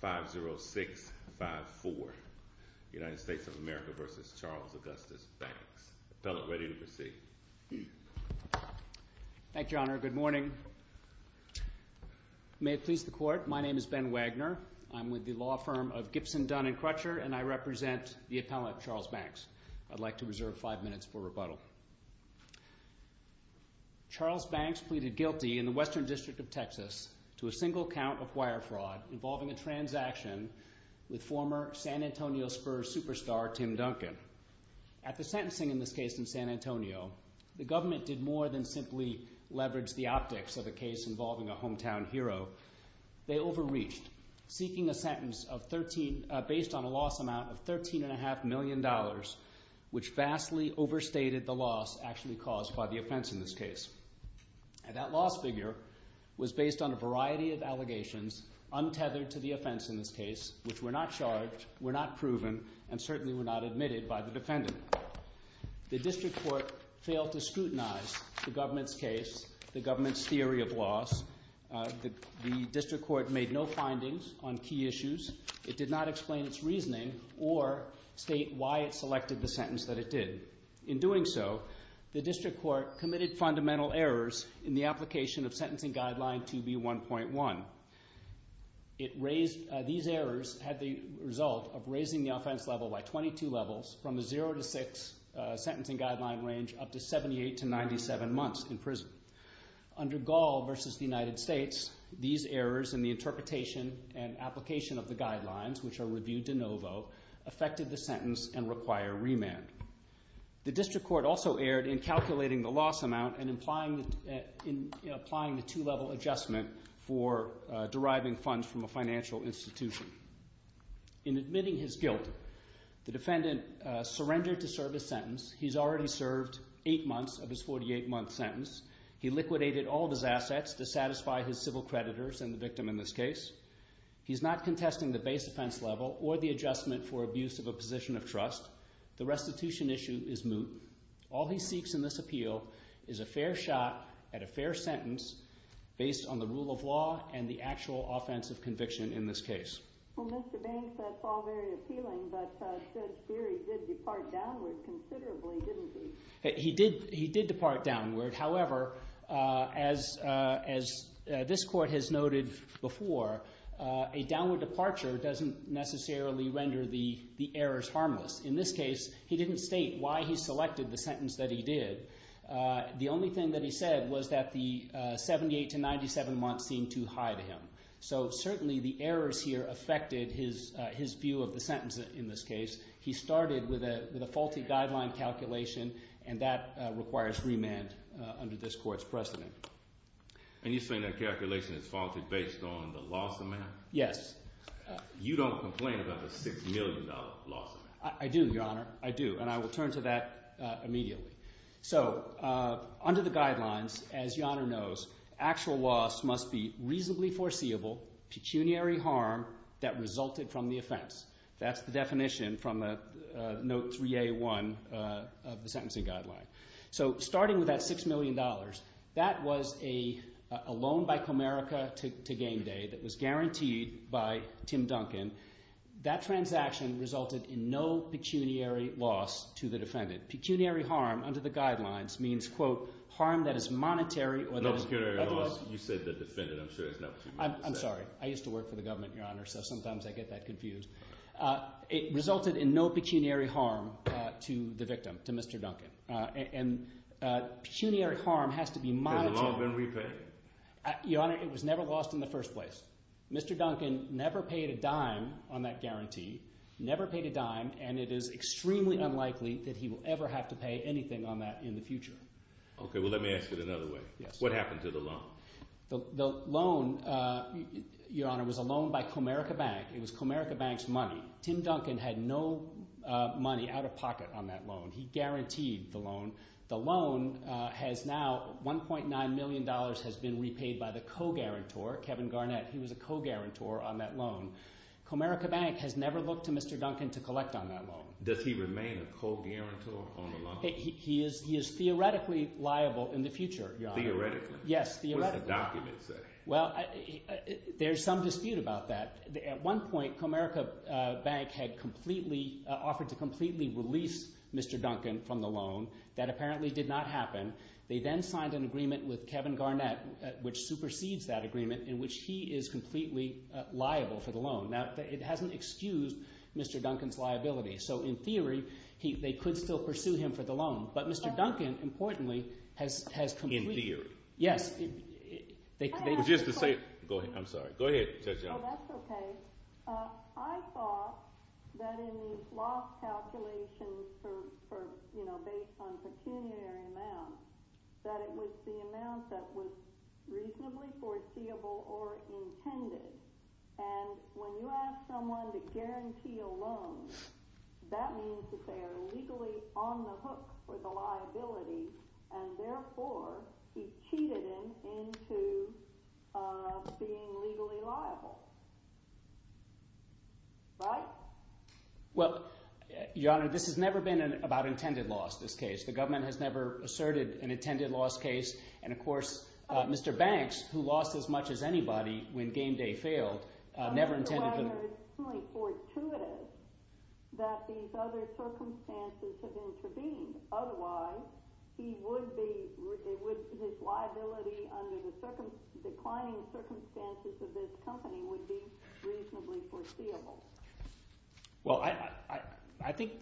50654, United States of America v. Charles Augustus Banks. Appellant, ready to proceed. Thank you, Honor. Good morning. May it please the Court, my name is Ben Wagner. I'm with the law firm of Gibson, Dunn & Crutcher, and I represent the appellant, Charles Banks. I'd like to reserve five minutes for rebuttal. Charles Banks pleaded guilty in the Western District of Texas to a single count of wire fraud involving a transaction with former San Antonio Spurs superstar Tim Duncan. At the sentencing in this case in San Antonio, the government did more than simply leverage the optics of a case involving a hometown hero. They overreached, seeking a sentence based on a loss amount of $13.5 million, which vastly overstated the loss actually caused by the offense in this case. And that loss figure was based on a variety of allegations untethered to the offense in this case, which were not charged, were not proven, and certainly were not admitted by the defendant. The district court failed to scrutinize the government's case, the government's theory of loss. The district court made no findings on key issues. It did not explain its reasoning or state why it selected the sentence that it did. In doing so, the district court committed fundamental errors in the application of Sentencing Guideline 2B1.1. These errors had the result of raising the offense level by 22 levels from a 0 to 6 sentencing guideline range up to 78 to 97 months in prison. Under Gall v. The United States, these errors in the interpretation and application of the guidelines, which are reviewed de novo, affected the sentence and require remand. The district court also erred in calculating the loss amount and applying the two-level adjustment for deriving funds from a financial institution. In admitting his guilt, the defendant surrendered to serve his sentence. He's already served 8 months of his 48-month sentence. He liquidated all of his assets to satisfy his civil creditors and the victim in this case. He's not contesting the base offense level or the adjustment for abuse of a position of trust. The restitution issue is moot. All he seeks in this appeal is a fair shot at a fair sentence based on the rule of law and the actual offensive conviction in this case. Well, Mr. Banks, that's all very appealing, but Judge Beery did depart downward considerably, didn't he? He did depart downward. However, as this court has noted before, a downward departure doesn't necessarily render the errors harmless. In this case, he didn't state why he selected the sentence that he did. The only thing that he said was that the 78 to 97 months seemed too high to him. So certainly the errors here affected his view of the sentence in this case. He started with a faulty guideline calculation, and that requires remand under this court's precedent. And you're saying that calculation is faulty based on the loss amount? Yes. You don't complain about the $6 million loss amount? I do, Your Honor. I do, and I will turn to that immediately. So under the guidelines, as Your Honor knows, actual loss must be reasonably foreseeable, pecuniary harm that resulted from the offense. That's the definition from Note 3A1 of the sentencing guideline. So starting with that $6 million, that was a loan by Comerica to GameDay that was guaranteed by Tim Duncan. That transaction resulted in no pecuniary loss to the defendant. Pecuniary harm under the guidelines means, quote, harm that is monetary. No pecuniary loss. You said the defendant. I'm sure there's no pecuniary loss. I'm sorry. I used to work for the government, Your Honor, so sometimes I get that confused. It resulted in no pecuniary harm to the victim, to Mr. Duncan. And pecuniary harm has to be monetary. Has the loan been repaid? Your Honor, it was never lost in the first place. And it is extremely unlikely that he will ever have to pay anything on that in the future. Okay. Well, let me ask it another way. Yes. What happened to the loan? The loan, Your Honor, was a loan by Comerica Bank. It was Comerica Bank's money. Tim Duncan had no money out of pocket on that loan. He guaranteed the loan. The loan has now $1.9 million has been repaid by the co-guarantor, Kevin Garnett. He was a co-guarantor on that loan. Comerica Bank has never looked to Mr. Duncan to collect on that loan. Does he remain a co-guarantor on the loan? He is theoretically liable in the future, Your Honor. Theoretically? Yes, theoretically. What does the document say? Well, there's some dispute about that. At one point, Comerica Bank had completely offered to completely release Mr. Duncan from the loan. That apparently did not happen. They then signed an agreement with Kevin Garnett, which supersedes that agreement, in which he is completely liable for the loan. Now, it hasn't excused Mr. Duncan's liability. So, in theory, they could still pursue him for the loan. But Mr. Duncan, importantly, has completely— In theory? Yes. I have a question. Go ahead. I'm sorry. Go ahead, Judge Young. No, that's okay. I thought that in these loss calculations based on pecuniary amounts, that it was the amount that was reasonably foreseeable or intended. And when you ask someone to guarantee a loan, that means that they are legally on the hook for the liability. And therefore, he cheated him into being legally liable. Right? Well, Your Honor, this has never been about intended loss, this case. The government has never asserted an intended loss case. And, of course, Mr. Banks, who lost as much as anybody when game day failed, never intended— It is extremely fortuitous that these other circumstances have intervened. Otherwise, he would be—his liability under the declining circumstances of this company would be reasonably foreseeable. Well, I think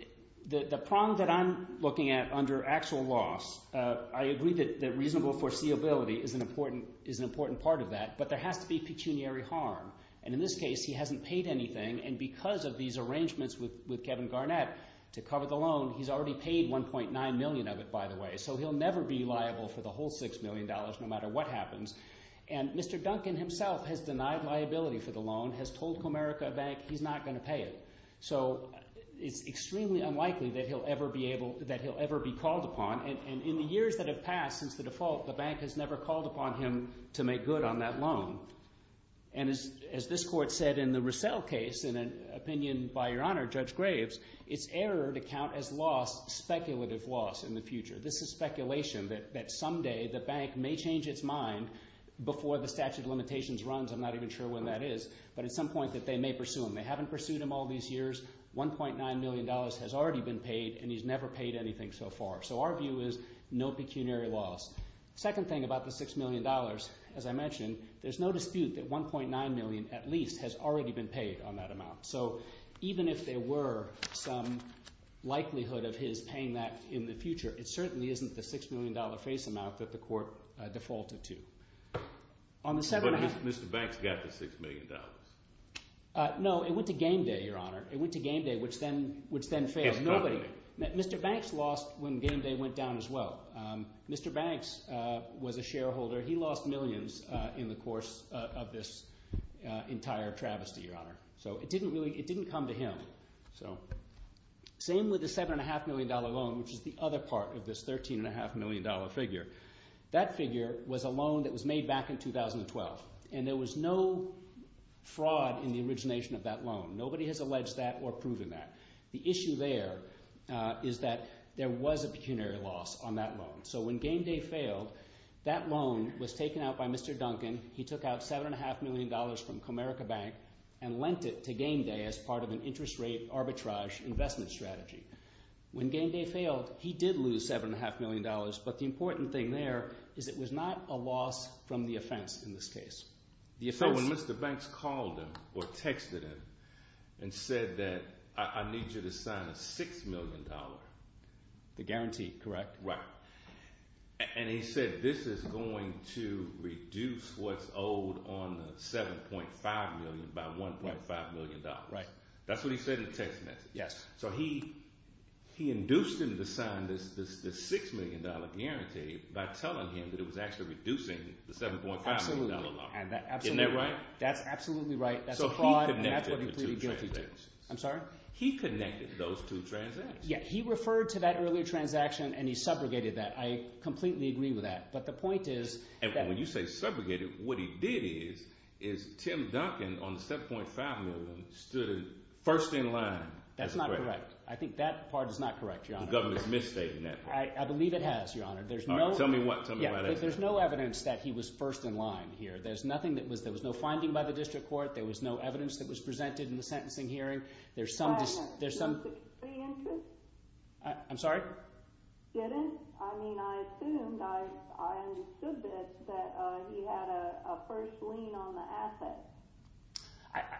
the problem that I'm looking at under actual loss, I agree that reasonable foreseeability is an important part of that. But there has to be pecuniary harm. And in this case, he hasn't paid anything. And because of these arrangements with Kevin Garnett to cover the loan, he's already paid $1.9 million of it, by the way. So he'll never be liable for the whole $6 million, no matter what happens. And Mr. Duncan himself has denied liability for the loan, has told Comerica Bank he's not going to pay it. So it's extremely unlikely that he'll ever be called upon. And in the years that have passed since the default, the bank has never called upon him to make good on that loan. And as this court said in the Russell case, in an opinion by Your Honor, Judge Graves, it's error to count as loss speculative loss in the future. This is speculation that someday the bank may change its mind before the statute of limitations runs. I'm not even sure when that is, but at some point that they may pursue him. They haven't pursued him all these years. $1.9 million has already been paid, and he's never paid anything so far. So our view is no pecuniary loss. Second thing about the $6 million, as I mentioned, there's no dispute that $1.9 million at least has already been paid on that amount. So even if there were some likelihood of his paying that in the future, it certainly isn't the $6 million face amount that the court defaulted to. But Mr. Banks got the $6 million. No, it went to game day, Your Honor. It went to game day, which then failed. Mr. Banks lost when game day went down as well. Mr. Banks was a shareholder. He lost millions in the course of this entire travesty, Your Honor. So it didn't come to him. So same with the $7.5 million loan, which is the other part of this $13.5 million figure. That figure was a loan that was made back in 2012, and there was no fraud in the origination of that loan. Nobody has alleged that or proven that. The issue there is that there was a pecuniary loss on that loan. So when game day failed, that loan was taken out by Mr. Duncan. He took out $7.5 million from Comerica Bank and lent it to game day as part of an interest rate arbitrage investment strategy. When game day failed, he did lose $7.5 million, but the important thing there is it was not a loss from the offense in this case. So when Mr. Banks called him or texted him and said that I need you to sign a $6 million. The guarantee, correct. Right. And he said this is going to reduce what's owed on the $7.5 million by $1.5 million. Right. That's what he said in the text message. Yes. So he induced him to sign this $6 million guarantee by telling him that it was actually reducing the $7.5 million loan. Isn't that right? That's absolutely right. So he connected the two transactions. I'm sorry? He connected those two transactions. Yeah, he referred to that earlier transaction, and he subrogated that. I completely agree with that. But the point is – And when you say subrogated, what he did is, is Tim Duncan on the $7.5 million stood first in line. That's not correct. I think that part is not correct, Your Honor. The government's misstating that part. I believe it has, Your Honor. Tell me what? Tell me about it. There's no evidence that he was first in line here. There's nothing that was – there was no finding by the district court. There was no evidence that was presented in the sentencing hearing. There's some – Wait a minute. Did you say interest? I'm sorry? You didn't? I mean, I assumed, I understood this, that he had a first lien on the asset.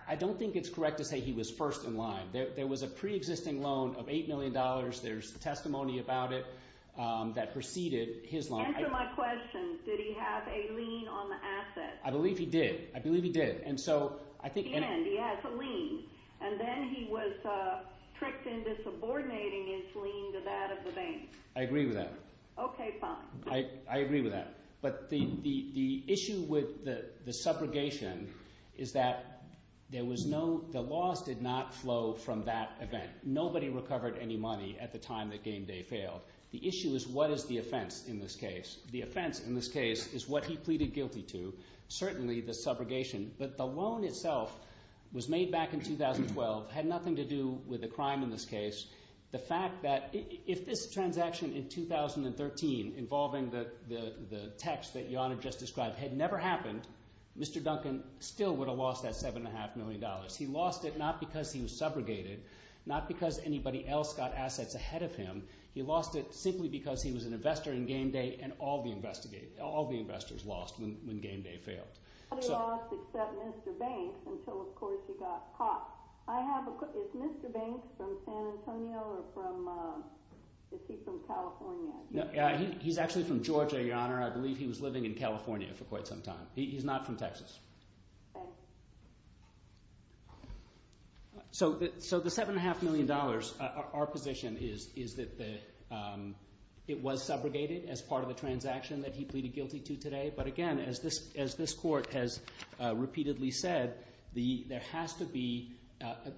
I don't think it's correct to say he was first in line. There was a preexisting loan of $8 million. There's testimony about it that preceded his loan. Answer my question. Did he have a lien on the asset? I believe he did. I believe he did. And so I think – And he has a lien. And then he was tricked into subordinating his lien to that of the bank. I agree with that. Okay, fine. I agree with that. But the issue with the subrogation is that there was no – the loss did not flow from that event. Nobody recovered any money at the time that Game Day failed. The issue is what is the offense in this case. The offense in this case is what he pleaded guilty to, certainly the subrogation. But the loan itself was made back in 2012, had nothing to do with the crime in this case. The fact that – if this transaction in 2013 involving the text that Jana just described had never happened, Mr. Duncan still would have lost that $7.5 million. He lost it not because he was subrogated, not because anybody else got assets ahead of him. He lost it simply because he was an investor in Game Day and all the investors lost when Game Day failed. Nobody lost except Mr. Banks until, of course, he got caught. Is Mr. Banks from San Antonio or from – is he from California? He's actually from Georgia, Your Honor. I believe he was living in California for quite some time. He's not from Texas. Okay. So the $7.5 million, our position is that it was subrogated as part of the transaction that he pleaded guilty to today. But, again, as this court has repeatedly said, there has to be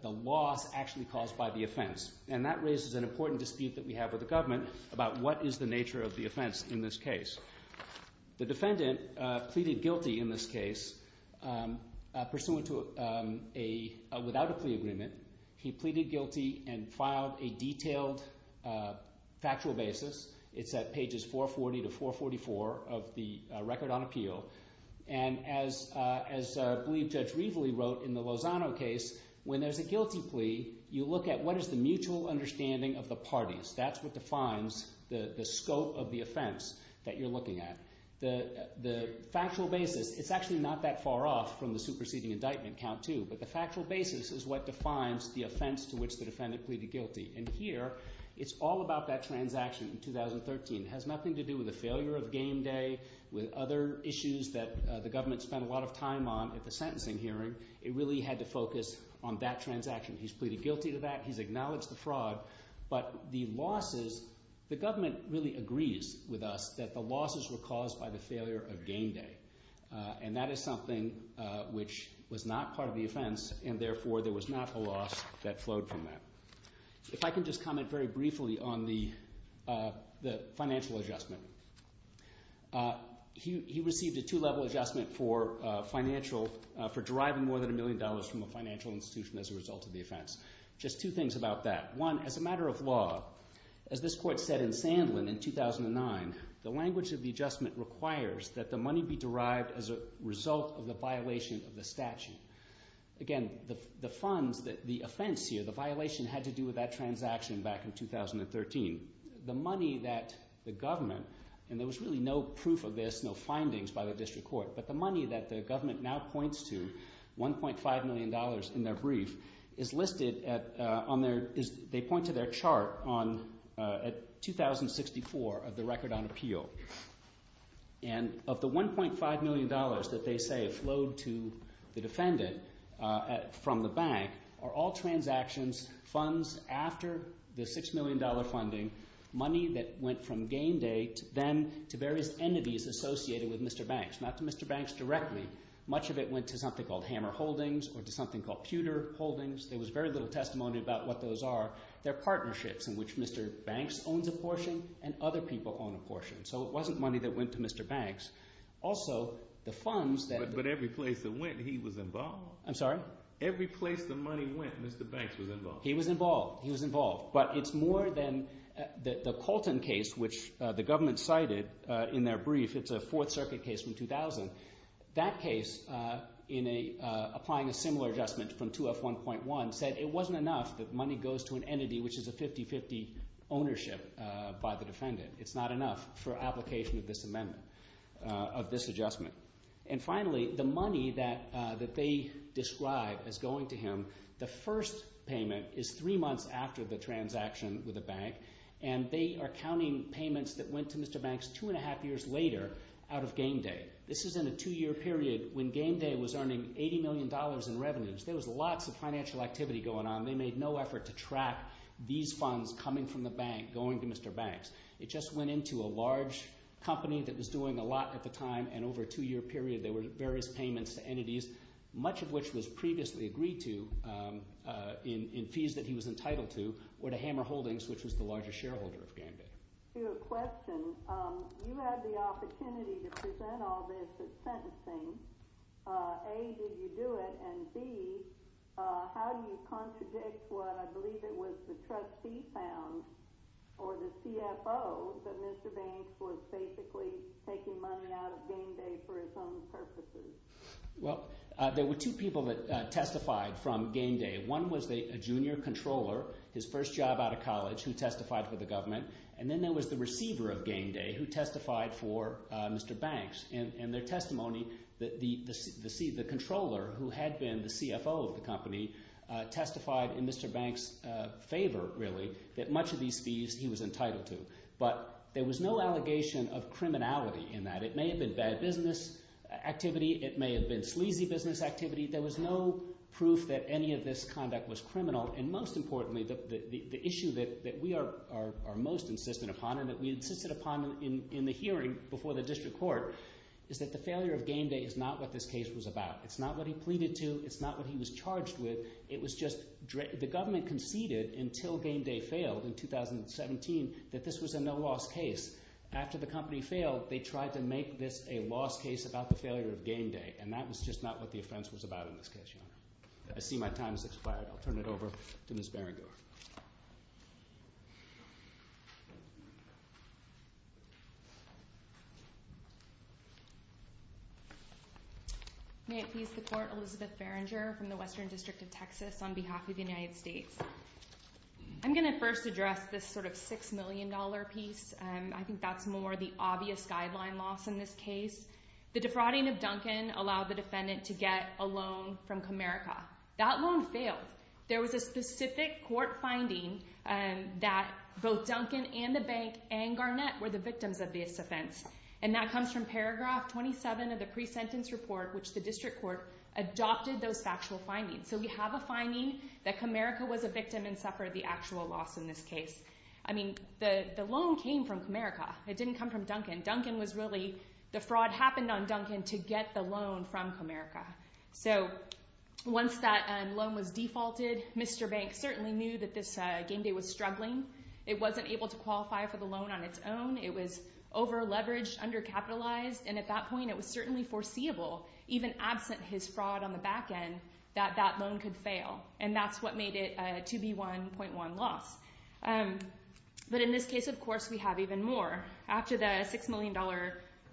the loss actually caused by the offense. And that raises an important dispute that we have with the government about what is the nature of the offense in this case. The defendant pleaded guilty in this case pursuant to a – without a plea agreement. He pleaded guilty and filed a detailed factual basis. It's at pages 440 to 444 of the record on appeal. And as I believe Judge Rievele wrote in the Lozano case, when there's a guilty plea, you look at what is the mutual understanding of the parties. That's what defines the scope of the offense that you're looking at. The factual basis, it's actually not that far off from the superseding indictment count too. But the factual basis is what defines the offense to which the defendant pleaded guilty. And here, it's all about that transaction in 2013. It has nothing to do with the failure of game day, with other issues that the government spent a lot of time on at the sentencing hearing. It really had to focus on that transaction. He's pleaded guilty to that. He's acknowledged the fraud. But the losses – the government really agrees with us that the losses were caused by the failure of game day. And that is something which was not part of the offense, and therefore there was not a loss that flowed from that. If I can just comment very briefly on the financial adjustment. He received a two-level adjustment for financial – for deriving more than a million dollars from a financial institution as a result of the offense. Just two things about that. One, as a matter of law, as this court said in Sandlin in 2009, the language of the adjustment requires that the money be derived as a result of the violation of the statute. Again, the funds that – the offense here, the violation had to do with that transaction back in 2013. The money that the government – and there was really no proof of this, no findings by the district court. But the money that the government now points to, $1.5 million in their brief, is listed on their – they point to their chart on – at 2064 of the record on appeal. And of the $1.5 million that they say flowed to the defendant from the bank are all transactions, funds after the $6 million funding, money that went from game day to then to various entities associated with Mr. Banks. Not to Mr. Banks directly. Much of it went to something called Hammer Holdings or to something called Pewter Holdings. There was very little testimony about what those are. They're partnerships in which Mr. Banks owns a portion and other people own a portion. So it wasn't money that went to Mr. Banks. Also, the funds that – But every place it went, he was involved? I'm sorry? Every place the money went, Mr. Banks was involved? He was involved. He was involved. But it's more than – the Colton case, which the government cited in their brief, it's a Fourth Circuit case from 2000. That case, in a – applying a similar adjustment from 2F1.1, said it wasn't enough that money goes to an entity which is a 50-50 ownership by the defendant. It's not enough for application of this amendment, of this adjustment. And finally, the money that they describe as going to him, the first payment is three months after the transaction with the bank. And they are counting payments that went to Mr. Banks two and a half years later out of Game Day. This is in a two-year period when Game Day was earning $80 million in revenues. There was lots of financial activity going on. They made no effort to track these funds coming from the bank going to Mr. Banks. It just went into a large company that was doing a lot at the time. And over a two-year period, there were various payments to entities, much of which was previously agreed to in fees that he was entitled to, or to Hammer Holdings, which was the largest shareholder of Game Day. To a question, you had the opportunity to present all this at sentencing. A, did you do it? And B, how do you contradict what I believe it was the trustee found or the CFO that Mr. Banks was basically taking money out of Game Day for his own purposes? Well, there were two people that testified from Game Day. One was a junior controller, his first job out of college, who testified for the government. And then there was the receiver of Game Day who testified for Mr. Banks. And their testimony, the controller who had been the CFO of the company testified in Mr. Banks' favor, really, that much of these fees he was entitled to. But there was no allegation of criminality in that. It may have been bad business activity. It may have been sleazy business activity. There was no proof that any of this conduct was criminal. And most importantly, the issue that we are most insistent upon and that we insisted upon in the hearing before the district court is that the failure of Game Day is not what this case was about. It's not what he pleaded to. It's not what he was charged with. It was just the government conceded until Game Day failed in 2017 that this was a no-loss case. After the company failed, they tried to make this a loss case about the failure of Game Day. And that was just not what the offense was about in this case, Your Honor. I see my time has expired. I'll turn it over to Ms. Barringer. May it please the Court, Elizabeth Barringer from the Western District of Texas on behalf of the United States. I'm going to first address this sort of $6 million piece. I think that's more the obvious guideline loss in this case. The defrauding of Duncan allowed the defendant to get a loan from Comerica. That loan failed. There was a specific court finding that both Duncan and the bank and Garnett were the victims of this offense. And that comes from paragraph 27 of the pre-sentence report, which the district court adopted those factual findings. So we have a finding that Comerica was a victim and suffered the actual loss in this case. I mean, the loan came from Comerica. It didn't come from Duncan. The fraud happened on Duncan to get the loan from Comerica. So once that loan was defaulted, Mr. Banks certainly knew that this Game Day was struggling. It wasn't able to qualify for the loan on its own. It was over-leveraged, under-capitalized. And at that point, it was certainly foreseeable, even absent his fraud on the back end, that that loan could fail. And that's what made it a 2B1.1 loss. But in this case, of course, we have even more. After the $6 million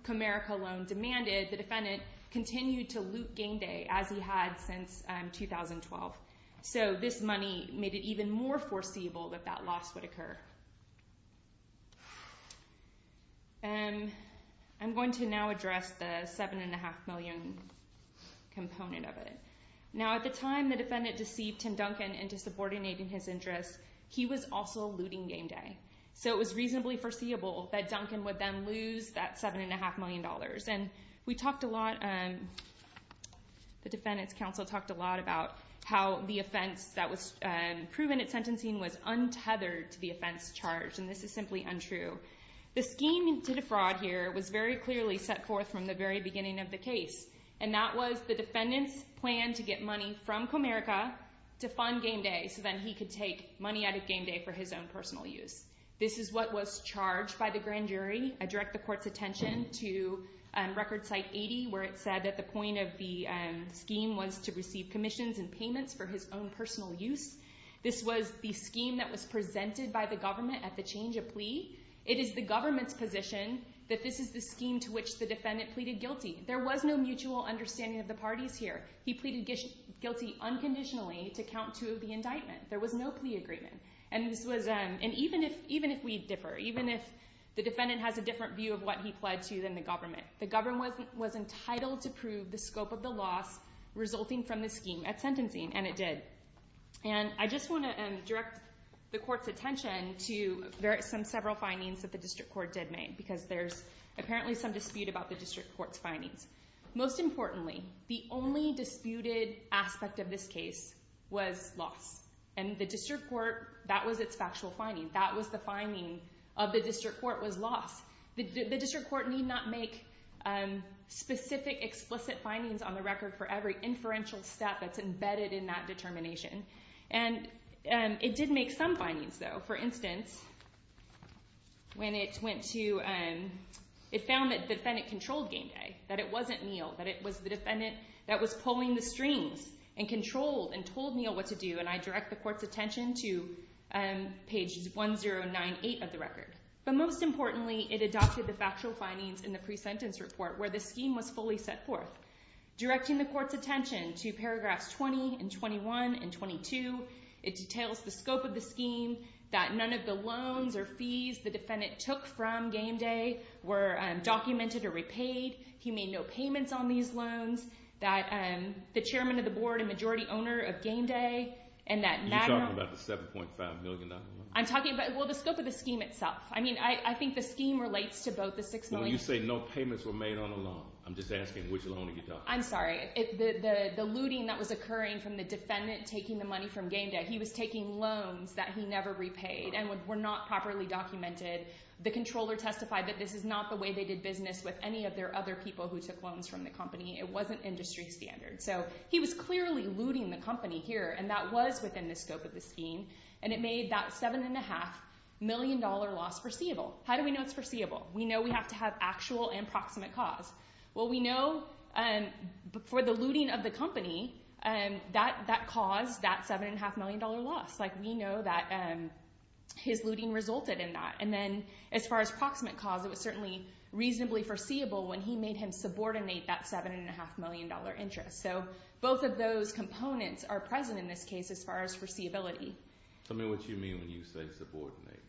Comerica loan demanded, the defendant continued to loot Game Day as he had since 2012. So this money made it even more foreseeable that that loss would occur. I'm going to now address the $7.5 million component of it. Now, at the time the defendant deceived Tim Duncan into subordinating his interests, he was also looting Game Day. So it was reasonably foreseeable that Duncan would then lose that $7.5 million. And we talked a lot, the Defendant's Counsel talked a lot about how the offense that was proven at sentencing was untethered to the offense charge. And this is simply untrue. The scheme to defraud here was very clearly set forth from the very beginning of the case. And that was the defendant's plan to get money from Comerica to fund Game Day so that he could take money out of Game Day for his own personal use. This is what was charged by the grand jury. I direct the court's attention to Record Site 80, where it said that the point of the scheme was to receive commissions and payments for his own personal use. This was the scheme that was presented by the government at the change of plea. It is the government's position that this is the scheme to which the defendant pleaded guilty. There was no mutual understanding of the parties here. He pleaded guilty unconditionally to count two of the indictment. There was no plea agreement. And even if we differ, even if the defendant has a different view of what he pledged to than the government, the government was entitled to prove the scope of the loss resulting from the scheme at sentencing, and it did. And I just want to direct the court's attention to some several findings that the district court did make, because there's apparently some dispute about the district court's findings. Most importantly, the only disputed aspect of this case was loss. And the district court, that was its factual finding. That was the finding of the district court was loss. The district court need not make specific explicit findings on the record for every inferential step that's embedded in that determination. And it did make some findings, though. For instance, when it went to, it found that the defendant controlled Game Day, that it wasn't Neal, that it was the defendant that was pulling the strings and controlled and told Neal what to do. And I direct the court's attention to page 1098 of the record. But most importantly, it adopted the factual findings in the pre-sentence report where the scheme was fully set forth, directing the court's attention to paragraphs 20 and 21 and 22. It details the scope of the scheme, that none of the loans or fees the defendant took from Game Day were documented or repaid. He made no payments on these loans. That the chairman of the board and majority owner of Game Day, and that Magnum- You're talking about the $7.5 million? I'm talking about, well, the scope of the scheme itself. I mean, I think the scheme relates to both the $6 million- I'm just asking which loan are you talking about? I'm sorry. The looting that was occurring from the defendant taking the money from Game Day, he was taking loans that he never repaid and were not properly documented. The controller testified that this is not the way they did business with any of their other people who took loans from the company. It wasn't industry standard. So he was clearly looting the company here, and that was within the scope of the scheme. And it made that $7.5 million loss foreseeable. How do we know it's foreseeable? We know we have to have actual and proximate cause. Well, we know for the looting of the company, that caused that $7.5 million loss. We know that his looting resulted in that. And then as far as proximate cause, it was certainly reasonably foreseeable when he made him subordinate that $7.5 million interest. So both of those components are present in this case as far as foreseeability. Tell me what you mean when you say subordinate.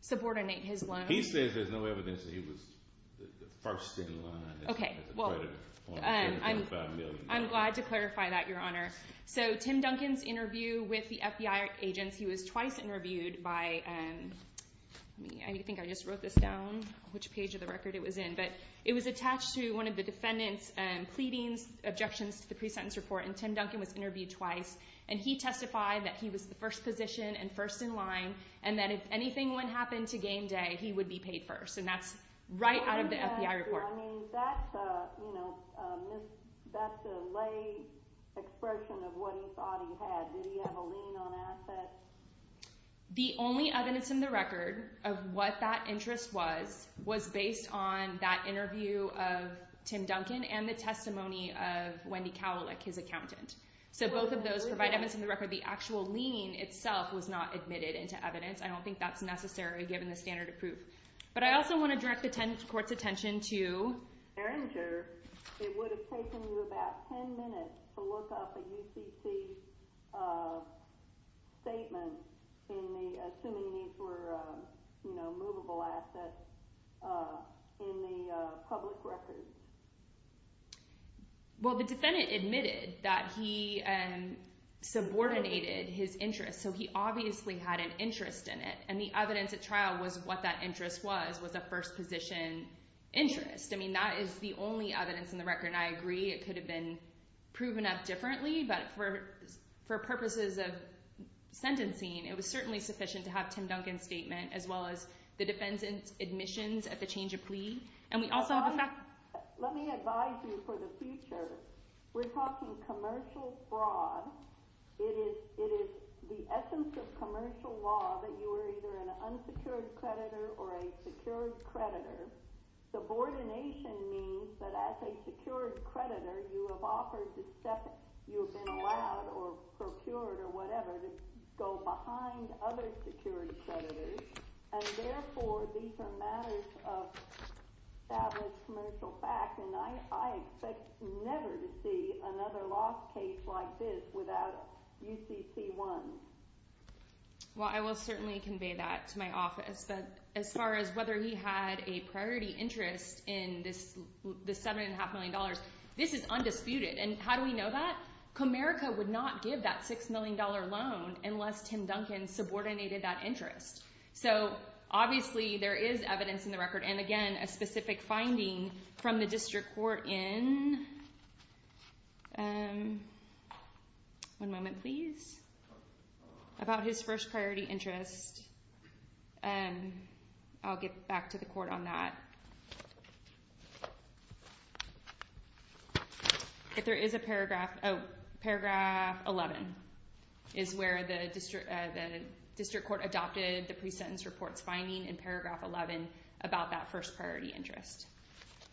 Subordinate his loans. He says there's no evidence that he was the first in line as a creditor on the $7.5 million. I'm glad to clarify that, Your Honor. So Tim Duncan's interview with the FBI agents, he was twice interviewed by— I think I just wrote this down, which page of the record it was in. But it was attached to one of the defendant's pleadings, objections to the pre-sentence report, and Tim Duncan was interviewed twice. And he testified that he was the first position and first in line and that if anything would happen to Game Day, he would be paid first. And that's right out of the FBI report. I mean, that's a, you know, that's a lay expression of what he thought he had. Did he have a lien on assets? The only evidence in the record of what that interest was was based on that interview of Tim Duncan and the testimony of Wendy Kowalik, his accountant. So both of those provide evidence in the record. The actual lien itself was not admitted into evidence. I don't think that's necessary given the standard of proof. But I also want to direct the court's attention to— Erringer, it would have taken you about 10 minutes to look up a UCC statement assuming these were, you know, movable assets in the public records. Well, the defendant admitted that he subordinated his interest. So he obviously had an interest in it. And the evidence at trial was what that interest was, was a first position interest. I mean, that is the only evidence in the record. And I agree it could have been proven up differently. But for purposes of sentencing, it was certainly sufficient to have Tim Duncan's statement as well as the defendant's admissions at the change of plea. Let me advise you for the future. We're talking commercial fraud. It is the essence of commercial law that you are either an unsecured creditor or a secured creditor. Subordination means that as a secured creditor, you have offered to step— you have been allowed or procured or whatever to go behind other secured creditors. And therefore, these are matters of established commercial fact. And I expect never to see another lost case like this without UCC-1. Well, I will certainly convey that to my office. But as far as whether he had a priority interest in this $7.5 million, this is undisputed. And how do we know that? Comerica would not give that $6 million loan unless Tim Duncan subordinated that interest. So obviously, there is evidence in the record and, again, a specific finding from the district court in— one moment, please—about his first priority interest. I'll get back to the court on that. If there is a paragraph—oh, paragraph 11 is where the district court adopted the pre-sentence report's finding in paragraph 11 about that first priority interest.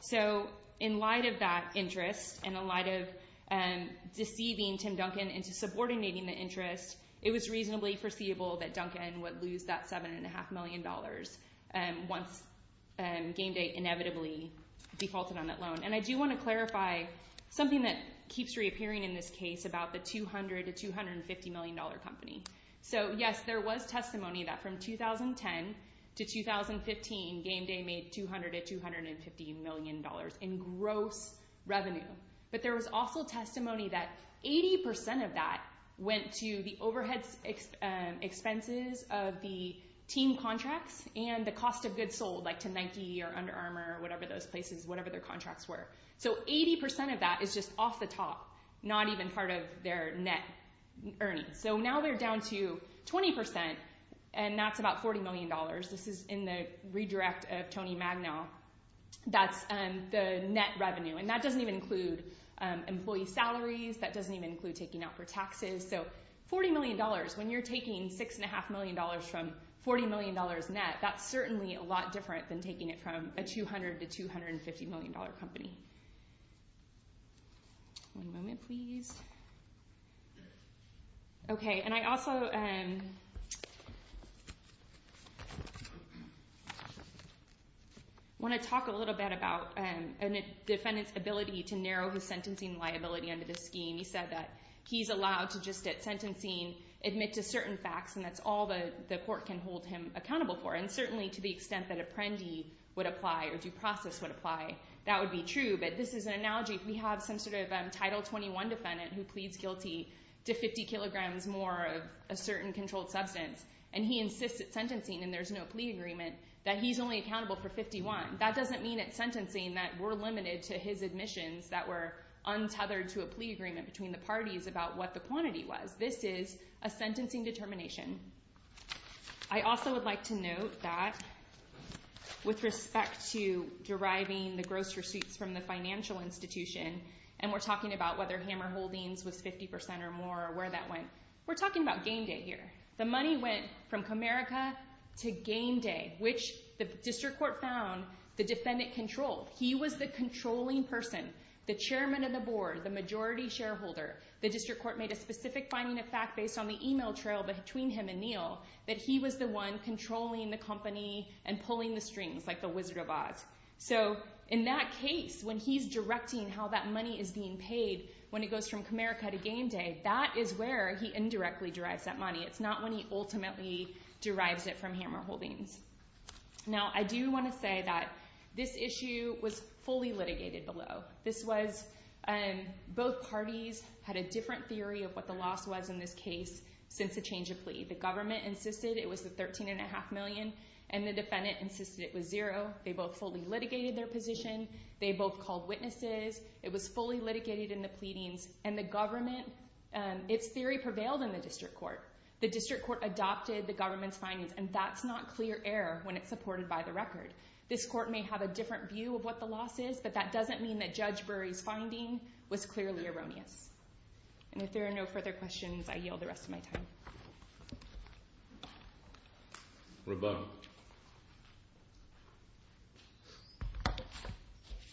So in light of that interest and in light of deceiving Tim Duncan into subordinating the interest, it was reasonably foreseeable that Duncan would lose that $7.5 million once Gameday inevitably defaulted on that loan. And I do want to clarify something that keeps reappearing in this case about the $200 million to $250 million company. So, yes, there was testimony that from 2010 to 2015, Gameday made $200 million to $250 million in gross revenue. But there was also testimony that 80% of that went to the overhead expenses of the team contracts and the cost of goods sold, like to Nike or Under Armour or whatever those places—whatever their contracts were. So 80% of that is just off the top, not even part of their net earnings. So now they're down to 20%, and that's about $40 million. This is in the redirect of Tony Magnow. That's the net revenue, and that doesn't even include employee salaries. That doesn't even include taking out for taxes. So $40 million, when you're taking $6.5 million from $40 million net, that's certainly a lot different than taking it from a $200 million to $250 million company. One moment, please. Okay, and I also want to talk a little bit about a defendant's ability to narrow his sentencing liability under this scheme. He said that he's allowed to just at sentencing admit to certain facts, and that's all the court can hold him accountable for. And certainly to the extent that Apprendi would apply or due process would apply, that would be true. But this is an analogy. We have some sort of Title 21 defendant who pleads guilty to 50 kilograms more of a certain controlled substance, and he insists at sentencing, and there's no plea agreement, that he's only accountable for 51. That doesn't mean at sentencing that we're limited to his admissions that were untethered to a plea agreement between the parties about what the quantity was. This is a sentencing determination. I also would like to note that with respect to deriving the gross receipts from the financial institution, and we're talking about whether Hammer Holdings was 50% or more or where that went, we're talking about game day here. The money went from Comerica to game day, which the district court found the defendant controlled. He was the controlling person, the chairman of the board, the majority shareholder. The district court made a specific finding of fact based on the e-mail trail between him and Neal, that he was the one controlling the company and pulling the strings like the Wizard of Oz. So in that case, when he's directing how that money is being paid when it goes from Comerica to game day, that is where he indirectly derives that money. It's not when he ultimately derives it from Hammer Holdings. Now, I do want to say that this issue was fully litigated below. This was both parties had a different theory of what the loss was in this case since the change of plea. The government insisted it was the $13.5 million, and the defendant insisted it was zero. They both fully litigated their position. They both called witnesses. It was fully litigated in the pleadings, and the government, its theory prevailed in the district court. The district court adopted the government's findings, and that's not clear error when it's supported by the record. This court may have a different view of what the loss is, but that doesn't mean that Judge Burry's finding was clearly erroneous. And if there are no further questions, I yield the rest of my time. Roboto.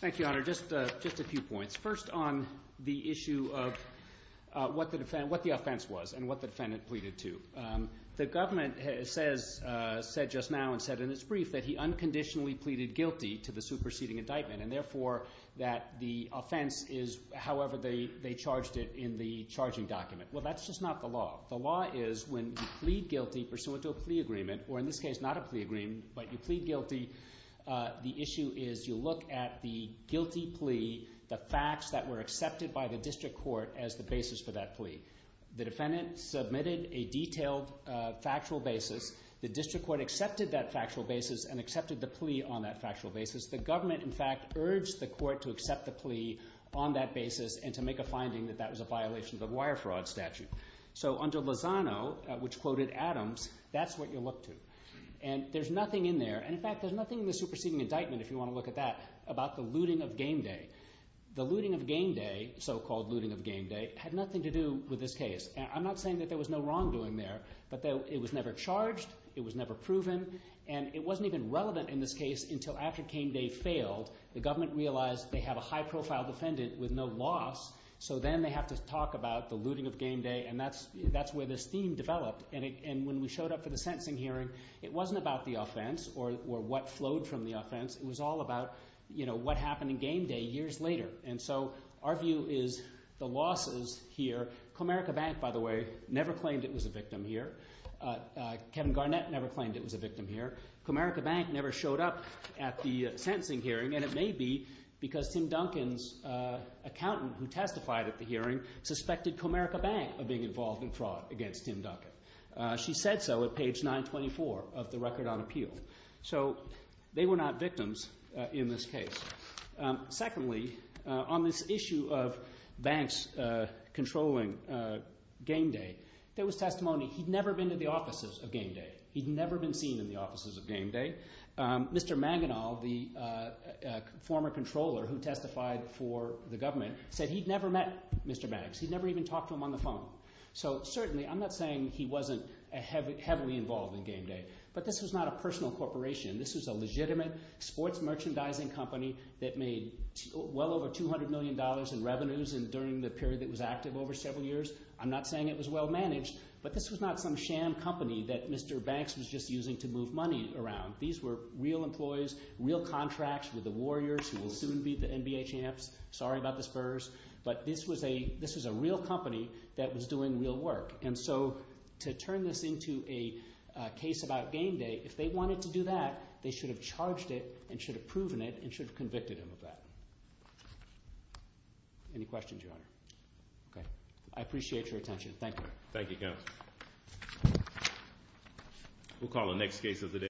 Thank you, Honor. Just a few points. First, on the issue of what the offense was and what the defendant pleaded to. The government has said just now and said in its brief that he unconditionally pleaded guilty to the superseding indictment and, therefore, that the offense is however they charged it in the charging document. Well, that's just not the law. The law is when you plead guilty pursuant to a plea agreement, or in this case, not a plea agreement, but you plead guilty, the issue is you look at the guilty plea, the facts that were accepted by the district court as the basis for that plea. The defendant submitted a detailed factual basis. The district court accepted that factual basis and accepted the plea on that factual basis. The government, in fact, urged the court to accept the plea on that basis and to make a finding that that was a violation of a wire fraud statute. So under Lozano, which quoted Adams, that's what you look to, and there's nothing in there. And, in fact, there's nothing in the superseding indictment, if you want to look at that, about the looting of game day. The looting of game day, so-called looting of game day, had nothing to do with this case. I'm not saying that there was no wrongdoing there, but it was never charged, it was never proven, and it wasn't even relevant in this case until after game day failed. The government realized they have a high-profile defendant with no loss, so then they have to talk about the looting of game day, and that's where this theme developed. And when we showed up for the sentencing hearing, it wasn't about the offense or what flowed from the offense. It was all about what happened in game day years later. And so our view is the losses here, Comerica Bank, by the way, never claimed it was a victim here. Kevin Garnett never claimed it was a victim here. Comerica Bank never showed up at the sentencing hearing, and it may be because Tim Duncan's accountant, who testified at the hearing, suspected Comerica Bank of being involved in fraud against Tim Duncan. She said so at page 924 of the record on appeal. So they were not victims in this case. Secondly, on this issue of banks controlling game day, there was testimony. He'd never been to the offices of game day. He'd never been seen in the offices of game day. Mr. Manganall, the former controller who testified for the government, said he'd never met Mr. Maggs. He'd never even talked to him on the phone. So certainly I'm not saying he wasn't heavily involved in game day, but this was not a personal corporation. This was a legitimate sports merchandising company that made well over $200 million in revenues during the period that was active over several years. I'm not saying it was well managed, but this was not some sham company that Mr. Banks was just using to move money around. These were real employees, real contracts with the warriors who will soon be the NBA champs. Sorry about the spurs. But this was a real company that was doing real work. And so to turn this into a case about game day, if they wanted to do that, they should have charged it and should have proven it and should have convicted him of that. Any questions, Your Honor? Okay. I appreciate your attention. Thank you. Thank you, counsel. We'll call the next case of the day.